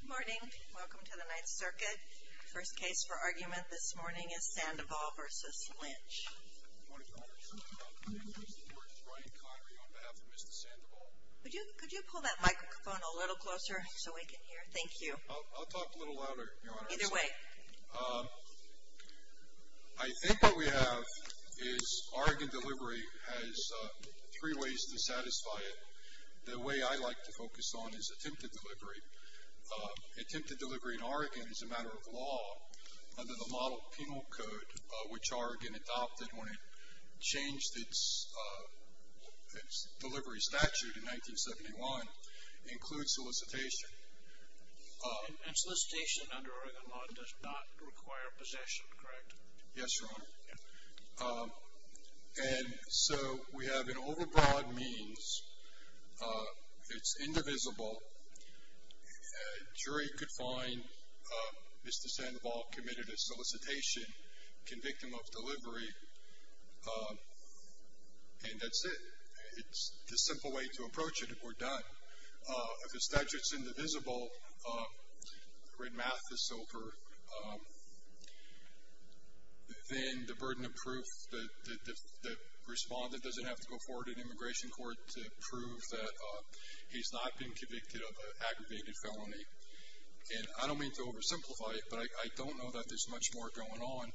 Good morning. Welcome to the Ninth Circuit. First case for argument this morning is Sandoval v. Lynch. Could you pull that microphone a little closer so we can hear? Thank you. I'll talk a little louder, Your Honor. Either way. I think what we have is Oregon Delivery has three ways to satisfy it. The way I like to focus on is attempted delivery. Attempted delivery in Oregon is a matter of law under the Model Penal Code, which Oregon adopted when it changed its delivery statute in 1971. It includes solicitation. And solicitation under Oregon law does not require possession, correct? Yes, Your Honor. And so we have an overbroad means. It's indivisible. A jury could find Mr. Sandoval committed a solicitation, convict him of delivery, and that's it. It's the simple way to approach it, and we're done. If the statute's indivisible, the red math is sober, then the burden of proof, the respondent doesn't have to go forward in immigration court to prove that he's not been convicted of an aggravated felony. And I don't mean to oversimplify it, but I don't know that there's much more going on,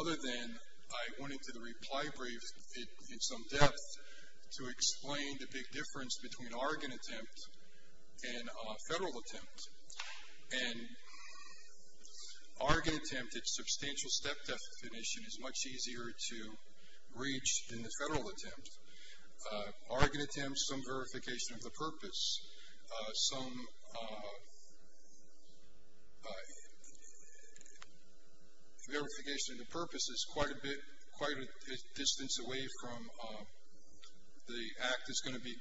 other than I went into the reply brief in some depth to explain the big difference between Oregon attempt and federal attempt. And Oregon attempt, its substantial step definition, is much easier to reach than the federal attempt. Oregon attempt, some verification of the purpose. Some verification of the purpose is quite a bit, quite a distance away from the act that's going to be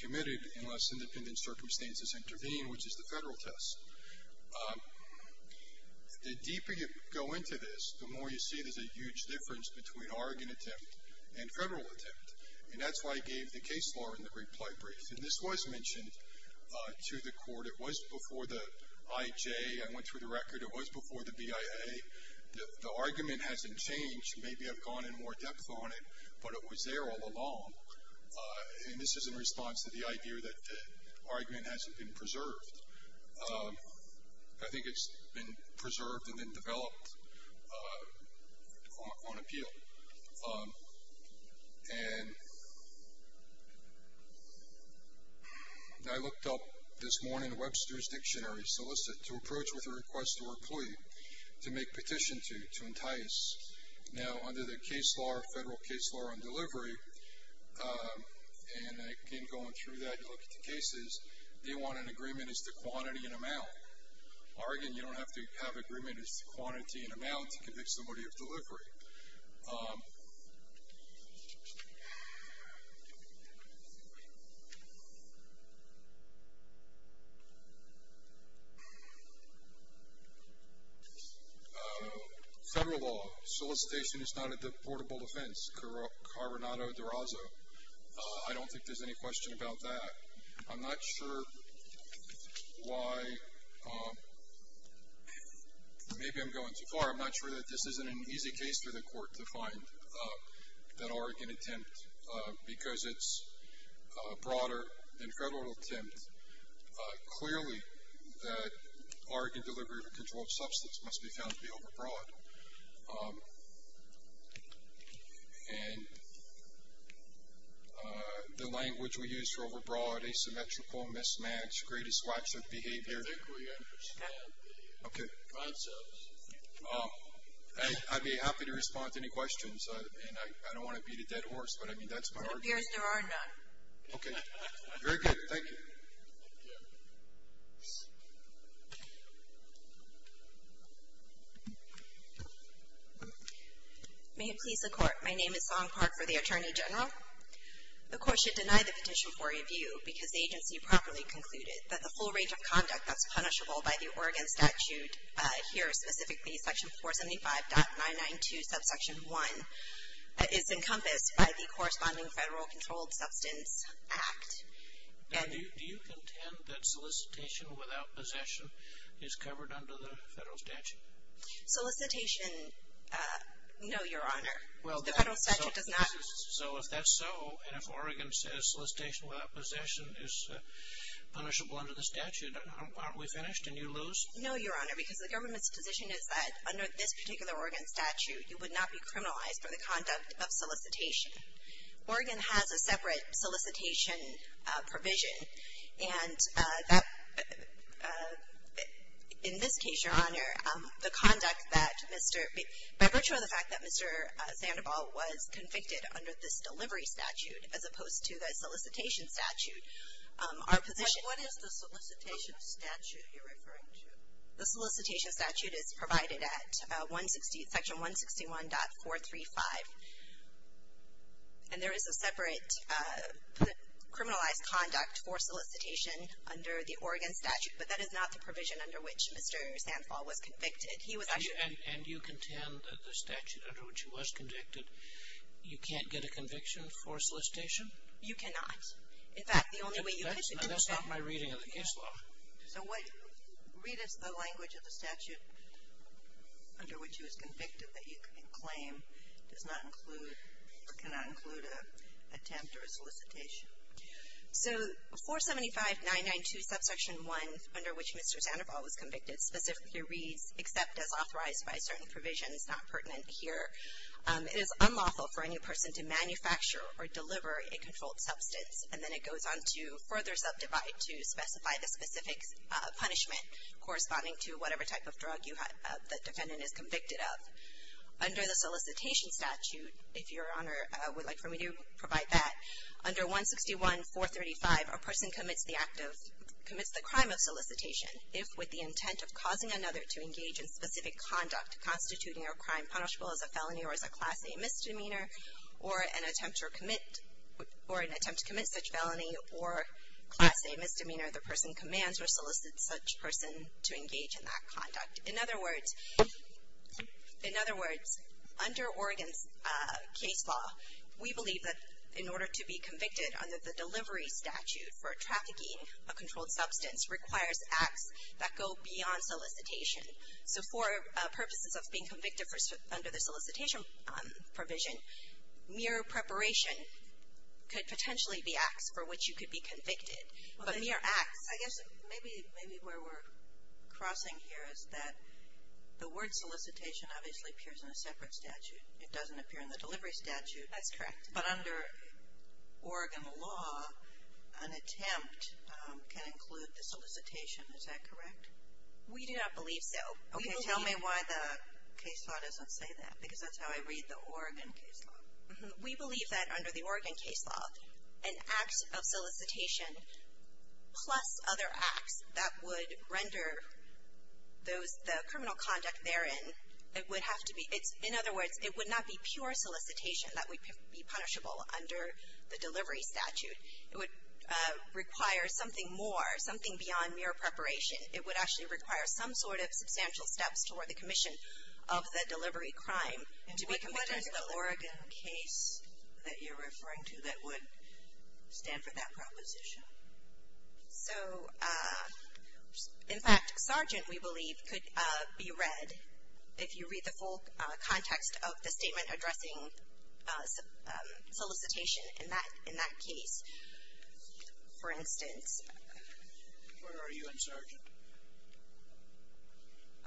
committed unless independent circumstances intervene, which is the federal test. The deeper you go into this, the more you see there's a huge difference between Oregon attempt and federal attempt, and that's why I gave the case law in the reply brief. And this was mentioned to the court. It was before the IJ. I went through the record. It was before the BIA. The argument hasn't changed. Maybe I've gone in more depth on it, but it was there all along. And this is in response to the idea that the argument hasn't been preserved. I think it's been preserved and then developed on appeal. And I looked up this morning Webster's Dictionary, solicit, to approach with a request to an employee, to make petition to, to entice. Now, under the case law, federal case law on delivery, and again going through that, you look at the cases, they want an agreement as to quantity and amount. Oregon, you don't have to have agreement as to quantity and amount to convict somebody of delivery. Federal law. Solicitation is not a deportable offense. Carbonado de Raza. I don't think there's any question about that. I'm not sure why, maybe I'm going too far. I'm not sure that this isn't an easy case for the court to find, that Oregon attempt, because it's broader than federal attempt. Clearly, that Oregon delivery of a controlled substance must be found to be overbroad. And the language we use for overbroad, asymmetrical, mismatch, greatest lack of behavior. Okay. I'd be happy to respond to any questions. I don't want to beat a dead horse, but I mean that's my argument. It appears there are none. Okay. Very good. Thank you. Thank you. May it please the court. My name is Song Park for the Attorney General. The court should deny the petition for review because the agency properly concluded that the full range of conduct that's punishable by the Oregon statute, here specifically section 475.992 subsection 1, is encompassed by the corresponding federal controlled substance act. Do you contend that solicitation without possession is covered under the federal statute? Solicitation, no, your honor. The federal statute does not. So if that's so, and if Oregon says solicitation without possession is punishable under the statute, aren't we finished and you lose? No, your honor, because the government's position is that under this particular Oregon statute you would not be criminalized for the conduct of solicitation. Oregon has a separate solicitation provision, and in this case, your honor, the conduct that Mr. By virtue of the fact that Mr. Sandoval was convicted under this delivery statute, as opposed to the solicitation statute, our position. What is the solicitation statute you're referring to? The solicitation statute is provided at section 161.435, and there is a separate criminalized conduct for solicitation under the Oregon statute, but that is not the provision under which Mr. Sandoval was convicted. He was actually. And you contend that the statute under which he was convicted, you can't get a conviction for solicitation? You cannot. In fact, the only way you could. That's not my reading of the case law. So what, read us the language of the statute under which he was convicted that you can claim does not include or cannot include an attempt or a solicitation. So 475.992, subsection 1, under which Mr. Sandoval was convicted, specifically reads except as authorized by certain provisions, not pertinent here. It is unlawful for any person to manufacture or deliver a controlled substance, and then it goes on to further subdivide to specify the specific punishment corresponding to whatever type of drug the defendant is convicted of. Under the solicitation statute, if Your Honor would like for me to provide that, under 161.435, a person commits the act of, commits the crime of solicitation if with the intent of causing another to engage in specific conduct constituting a crime punishable as a felony or as a Class A misdemeanor, or an attempt to commit, or an attempt to commit such felony or Class A misdemeanor, the person commands or solicits such person to engage in that conduct. In other words, in other words, under Oregon's case law, we believe that in order to be convicted under the delivery statute for trafficking a controlled substance requires acts that go beyond solicitation. So for purposes of being convicted under the solicitation provision, mere preparation could potentially be acts for which you could be convicted. But mere acts. I guess maybe where we're crossing here is that the word solicitation obviously appears in a separate statute. It doesn't appear in the delivery statute. That's correct. But under Oregon law, an attempt can include the solicitation. Is that correct? We do not believe so. Okay. Tell me why the case law doesn't say that, because that's how I read the Oregon case law. We believe that under the Oregon case law, an act of solicitation plus other acts that would render those, the criminal conduct therein, it would have to be, in other words, it would not be pure solicitation that would be punishable under the delivery statute. It would require something more, something beyond mere preparation. It would actually require some sort of substantial steps toward the commission of the delivery crime to be convicted. And what is the Oregon case that you're referring to that would stand for that proposition? So, in fact, sergeant, we believe, could be read if you read the full context of the statement addressing solicitation in that case. For instance. Where are you, I'm sorry.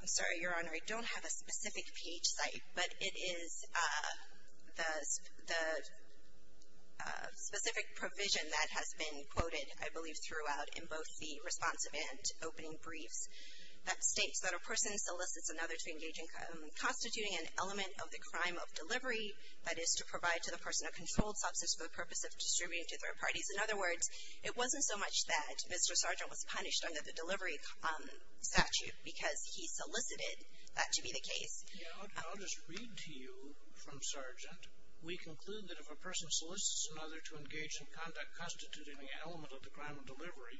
I'm sorry, Your Honor. I don't have a specific page site, but it is the specific provision that has been quoted, I believe, throughout in both the responsive and opening briefs, that states that a person solicits another to engage in constituting an element of the crime of delivery, that is, to provide to the person a controlled substance for the purpose of distributing to third parties. In other words, it wasn't so much that Mr. Sergeant was punished under the delivery statute because he solicited that to be the case. I'll just read to you from sergeant. We conclude that if a person solicits another to engage in conduct constituting an element of the crime of delivery,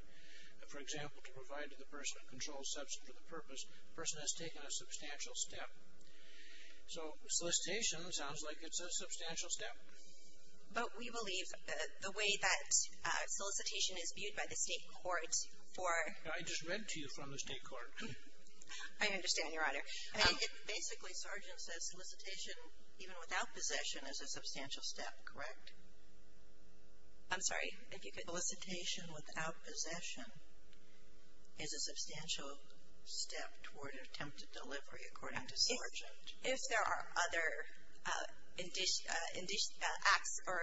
for example, to provide to the person a controlled substance for the purpose, the person has taken a substantial step. So solicitation sounds like it's a substantial step. But we believe the way that solicitation is viewed by the state court for. I just read to you from the state court. I understand, Your Honor. Basically, sergeant says solicitation even without possession is a substantial step, correct? I'm sorry. If you could. Solicitation without possession is a substantial step toward attempted delivery, according to sergeant. If there are other acts or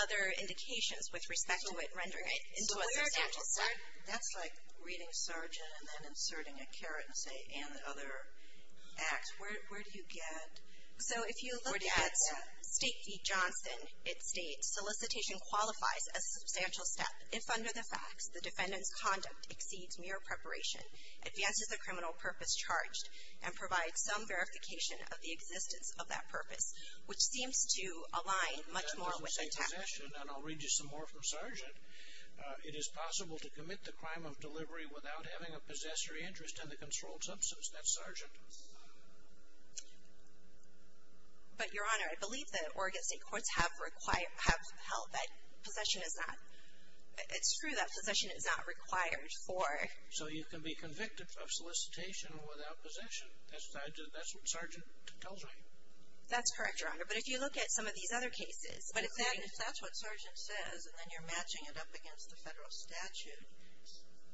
other indications with respect to it rendering it into a substantial step. That's like reading sergeant and then inserting a caret and saying and other acts. Where do you get that? So if you look at State v. Johnson, it states solicitation qualifies as a substantial step if under the facts the defendant's conduct exceeds mere preparation, advances the criminal purpose charged, and provides some verification of the existence of that purpose, which seems to align much more with the task. That doesn't say possession. And I'll read you some more from sergeant. It is possible to commit the crime of delivery without having a possessory interest in the controlled substance. That's sergeant. But, Your Honor, I believe the Oregon State Courts have held that possession is not. It's true that possession is not required for. So you can be convicted of solicitation without possession. That's what sergeant tells me. That's correct, Your Honor. But if you look at some of these other cases. But if that's what sergeant says and then you're matching it up against the federal statute,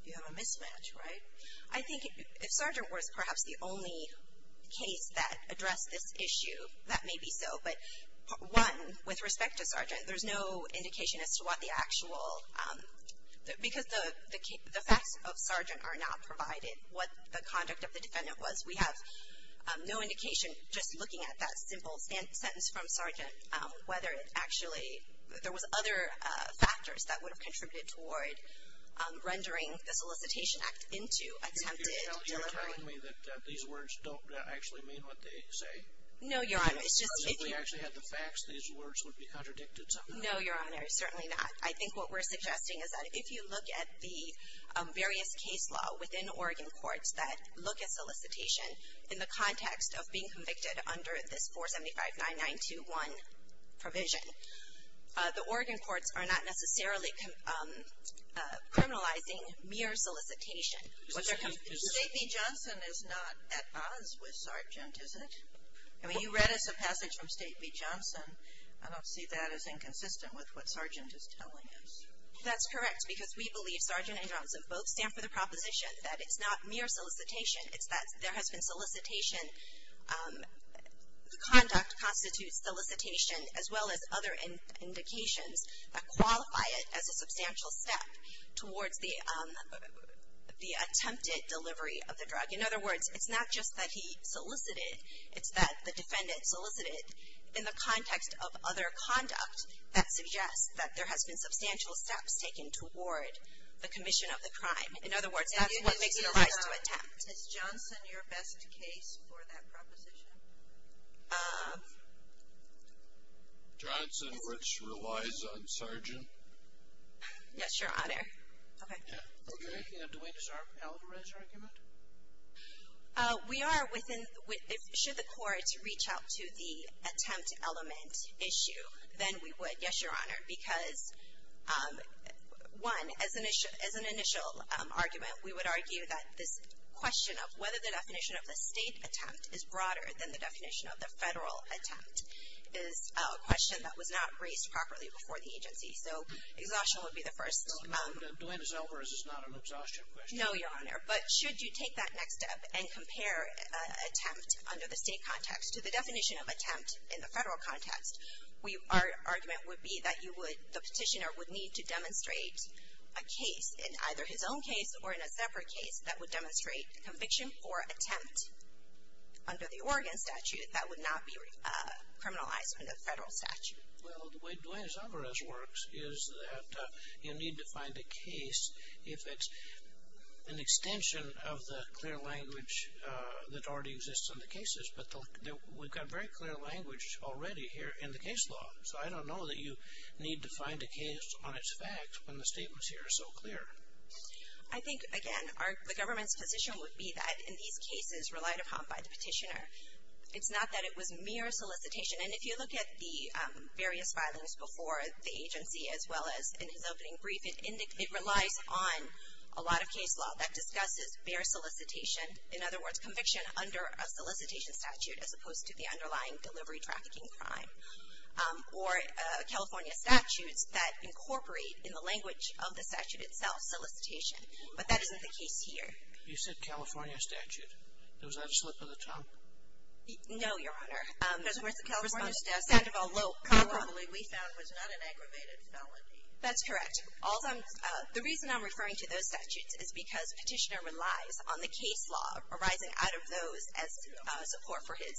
you have a mismatch, right? I think if sergeant was perhaps the only case that addressed this issue, that may be so. But one, with respect to sergeant, there's no indication as to what the actual. Because the facts of sergeant are not provided what the conduct of the defendant was. We have no indication, just looking at that simple sentence from sergeant, whether it actually, there was other factors that would have contributed toward rendering the solicitation act into attempted delivery. You're telling me that these words don't actually mean what they say? No, Your Honor. It's just. If we actually had the facts, these words would be contradicted somehow. No, Your Honor, certainly not. I think what we're suggesting is that if you look at the various case law within Oregon courts that look at solicitation in the context of being convicted under this 4759921 provision, the Oregon courts are not necessarily criminalizing mere solicitation. State v. Johnson is not at odds with sergeant, is it? I mean, you read us a passage from State v. Johnson. I don't see that as inconsistent with what sergeant is telling us. That's correct. Because we believe sergeant and Johnson both stand for the proposition that it's not mere solicitation. It's that there has been solicitation, the conduct constitutes solicitation, as well as other indications that qualify it as a substantial step towards the attempted delivery of the drug. In other words, it's not just that he solicited. It's that the defendant solicited in the context of other conduct that suggests that there has been substantial steps taken toward the commission of the crime. In other words, that's what makes it a right to attempt. Is Johnson your best case for that proposition? Johnson, which relies on sergeant. Yes, Your Honor. Okay. Okay. Do we deserve Alvarez's argument? We are within — should the Court reach out to the attempt element issue, then we would. Yes, Your Honor, because, one, as an initial argument, we would argue that this question of whether the definition of the State attempt is broader than the definition of the Federal attempt is a question that was not raised properly before the agency. So exhaustion would be the first. No, no. Delanna's Alvarez is not an exhaustion question. No, Your Honor. But should you take that next step and compare attempt under the State context to the definition of attempt in the Federal context, our argument would be that you would — the petitioner would need to demonstrate a case in either his own case or in a separate case that would demonstrate conviction for attempt under the Oregon statute that would not be criminalized under the Federal statute. Well, the way Delanna's Alvarez works is that you need to find a case if it's an extension of the clear language that already exists in the cases. But we've got very clear language already here in the case law. So I don't know that you need to find a case on its facts when the statement here is so clear. I think, again, the government's position would be that in these cases relied upon by the petitioner, it's not that it was mere solicitation. And if you look at the various filings before the agency as well as in his opening brief, it relies on a lot of case law that discusses mere solicitation. In other words, conviction under a solicitation statute as opposed to the underlying delivery trafficking crime. Or California statutes that incorporate in the language of the statute itself solicitation. But that isn't the case here. You said California statute. Was that a slip of the tongue? No, Your Honor. Because California statutes we found was not an aggravated felony. That's correct. The reason I'm referring to those statutes is because petitioner relies on the case law arising out of those as support for his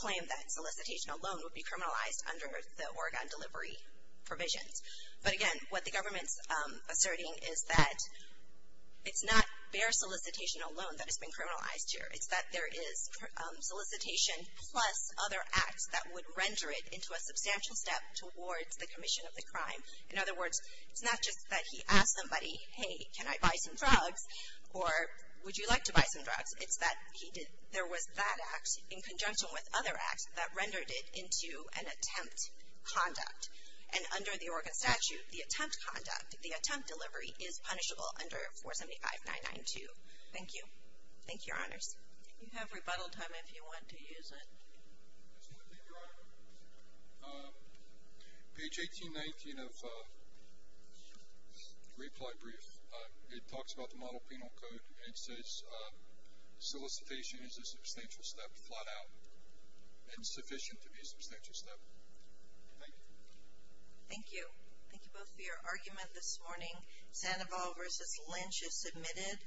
claim that solicitation alone would be criminalized under the Oregon delivery provisions. But again, what the government's asserting is that it's not mere solicitation alone that has been criminalized here. It's that there is solicitation plus other acts that would render it into a substantial step towards the commission of the crime. In other words, it's not just that he asked somebody, hey, can I buy some drugs? Or would you like to buy some drugs? It's that there was that act in conjunction with other acts that rendered it into an attempt conduct. And under the Oregon statute, the attempt conduct, the attempt delivery is punishable under 475992. Thank you. Thank you, Your Honors. You have rebuttal time if you want to use it. I just want to thank Your Honor. Page 1819 of the reply brief, it talks about the model penal code and it says solicitation is a substantial step, flat out, and sufficient to be a substantial step. Thank you. Thank you. Thank you both for your argument this morning. Sandoval v. Lynch is submitted.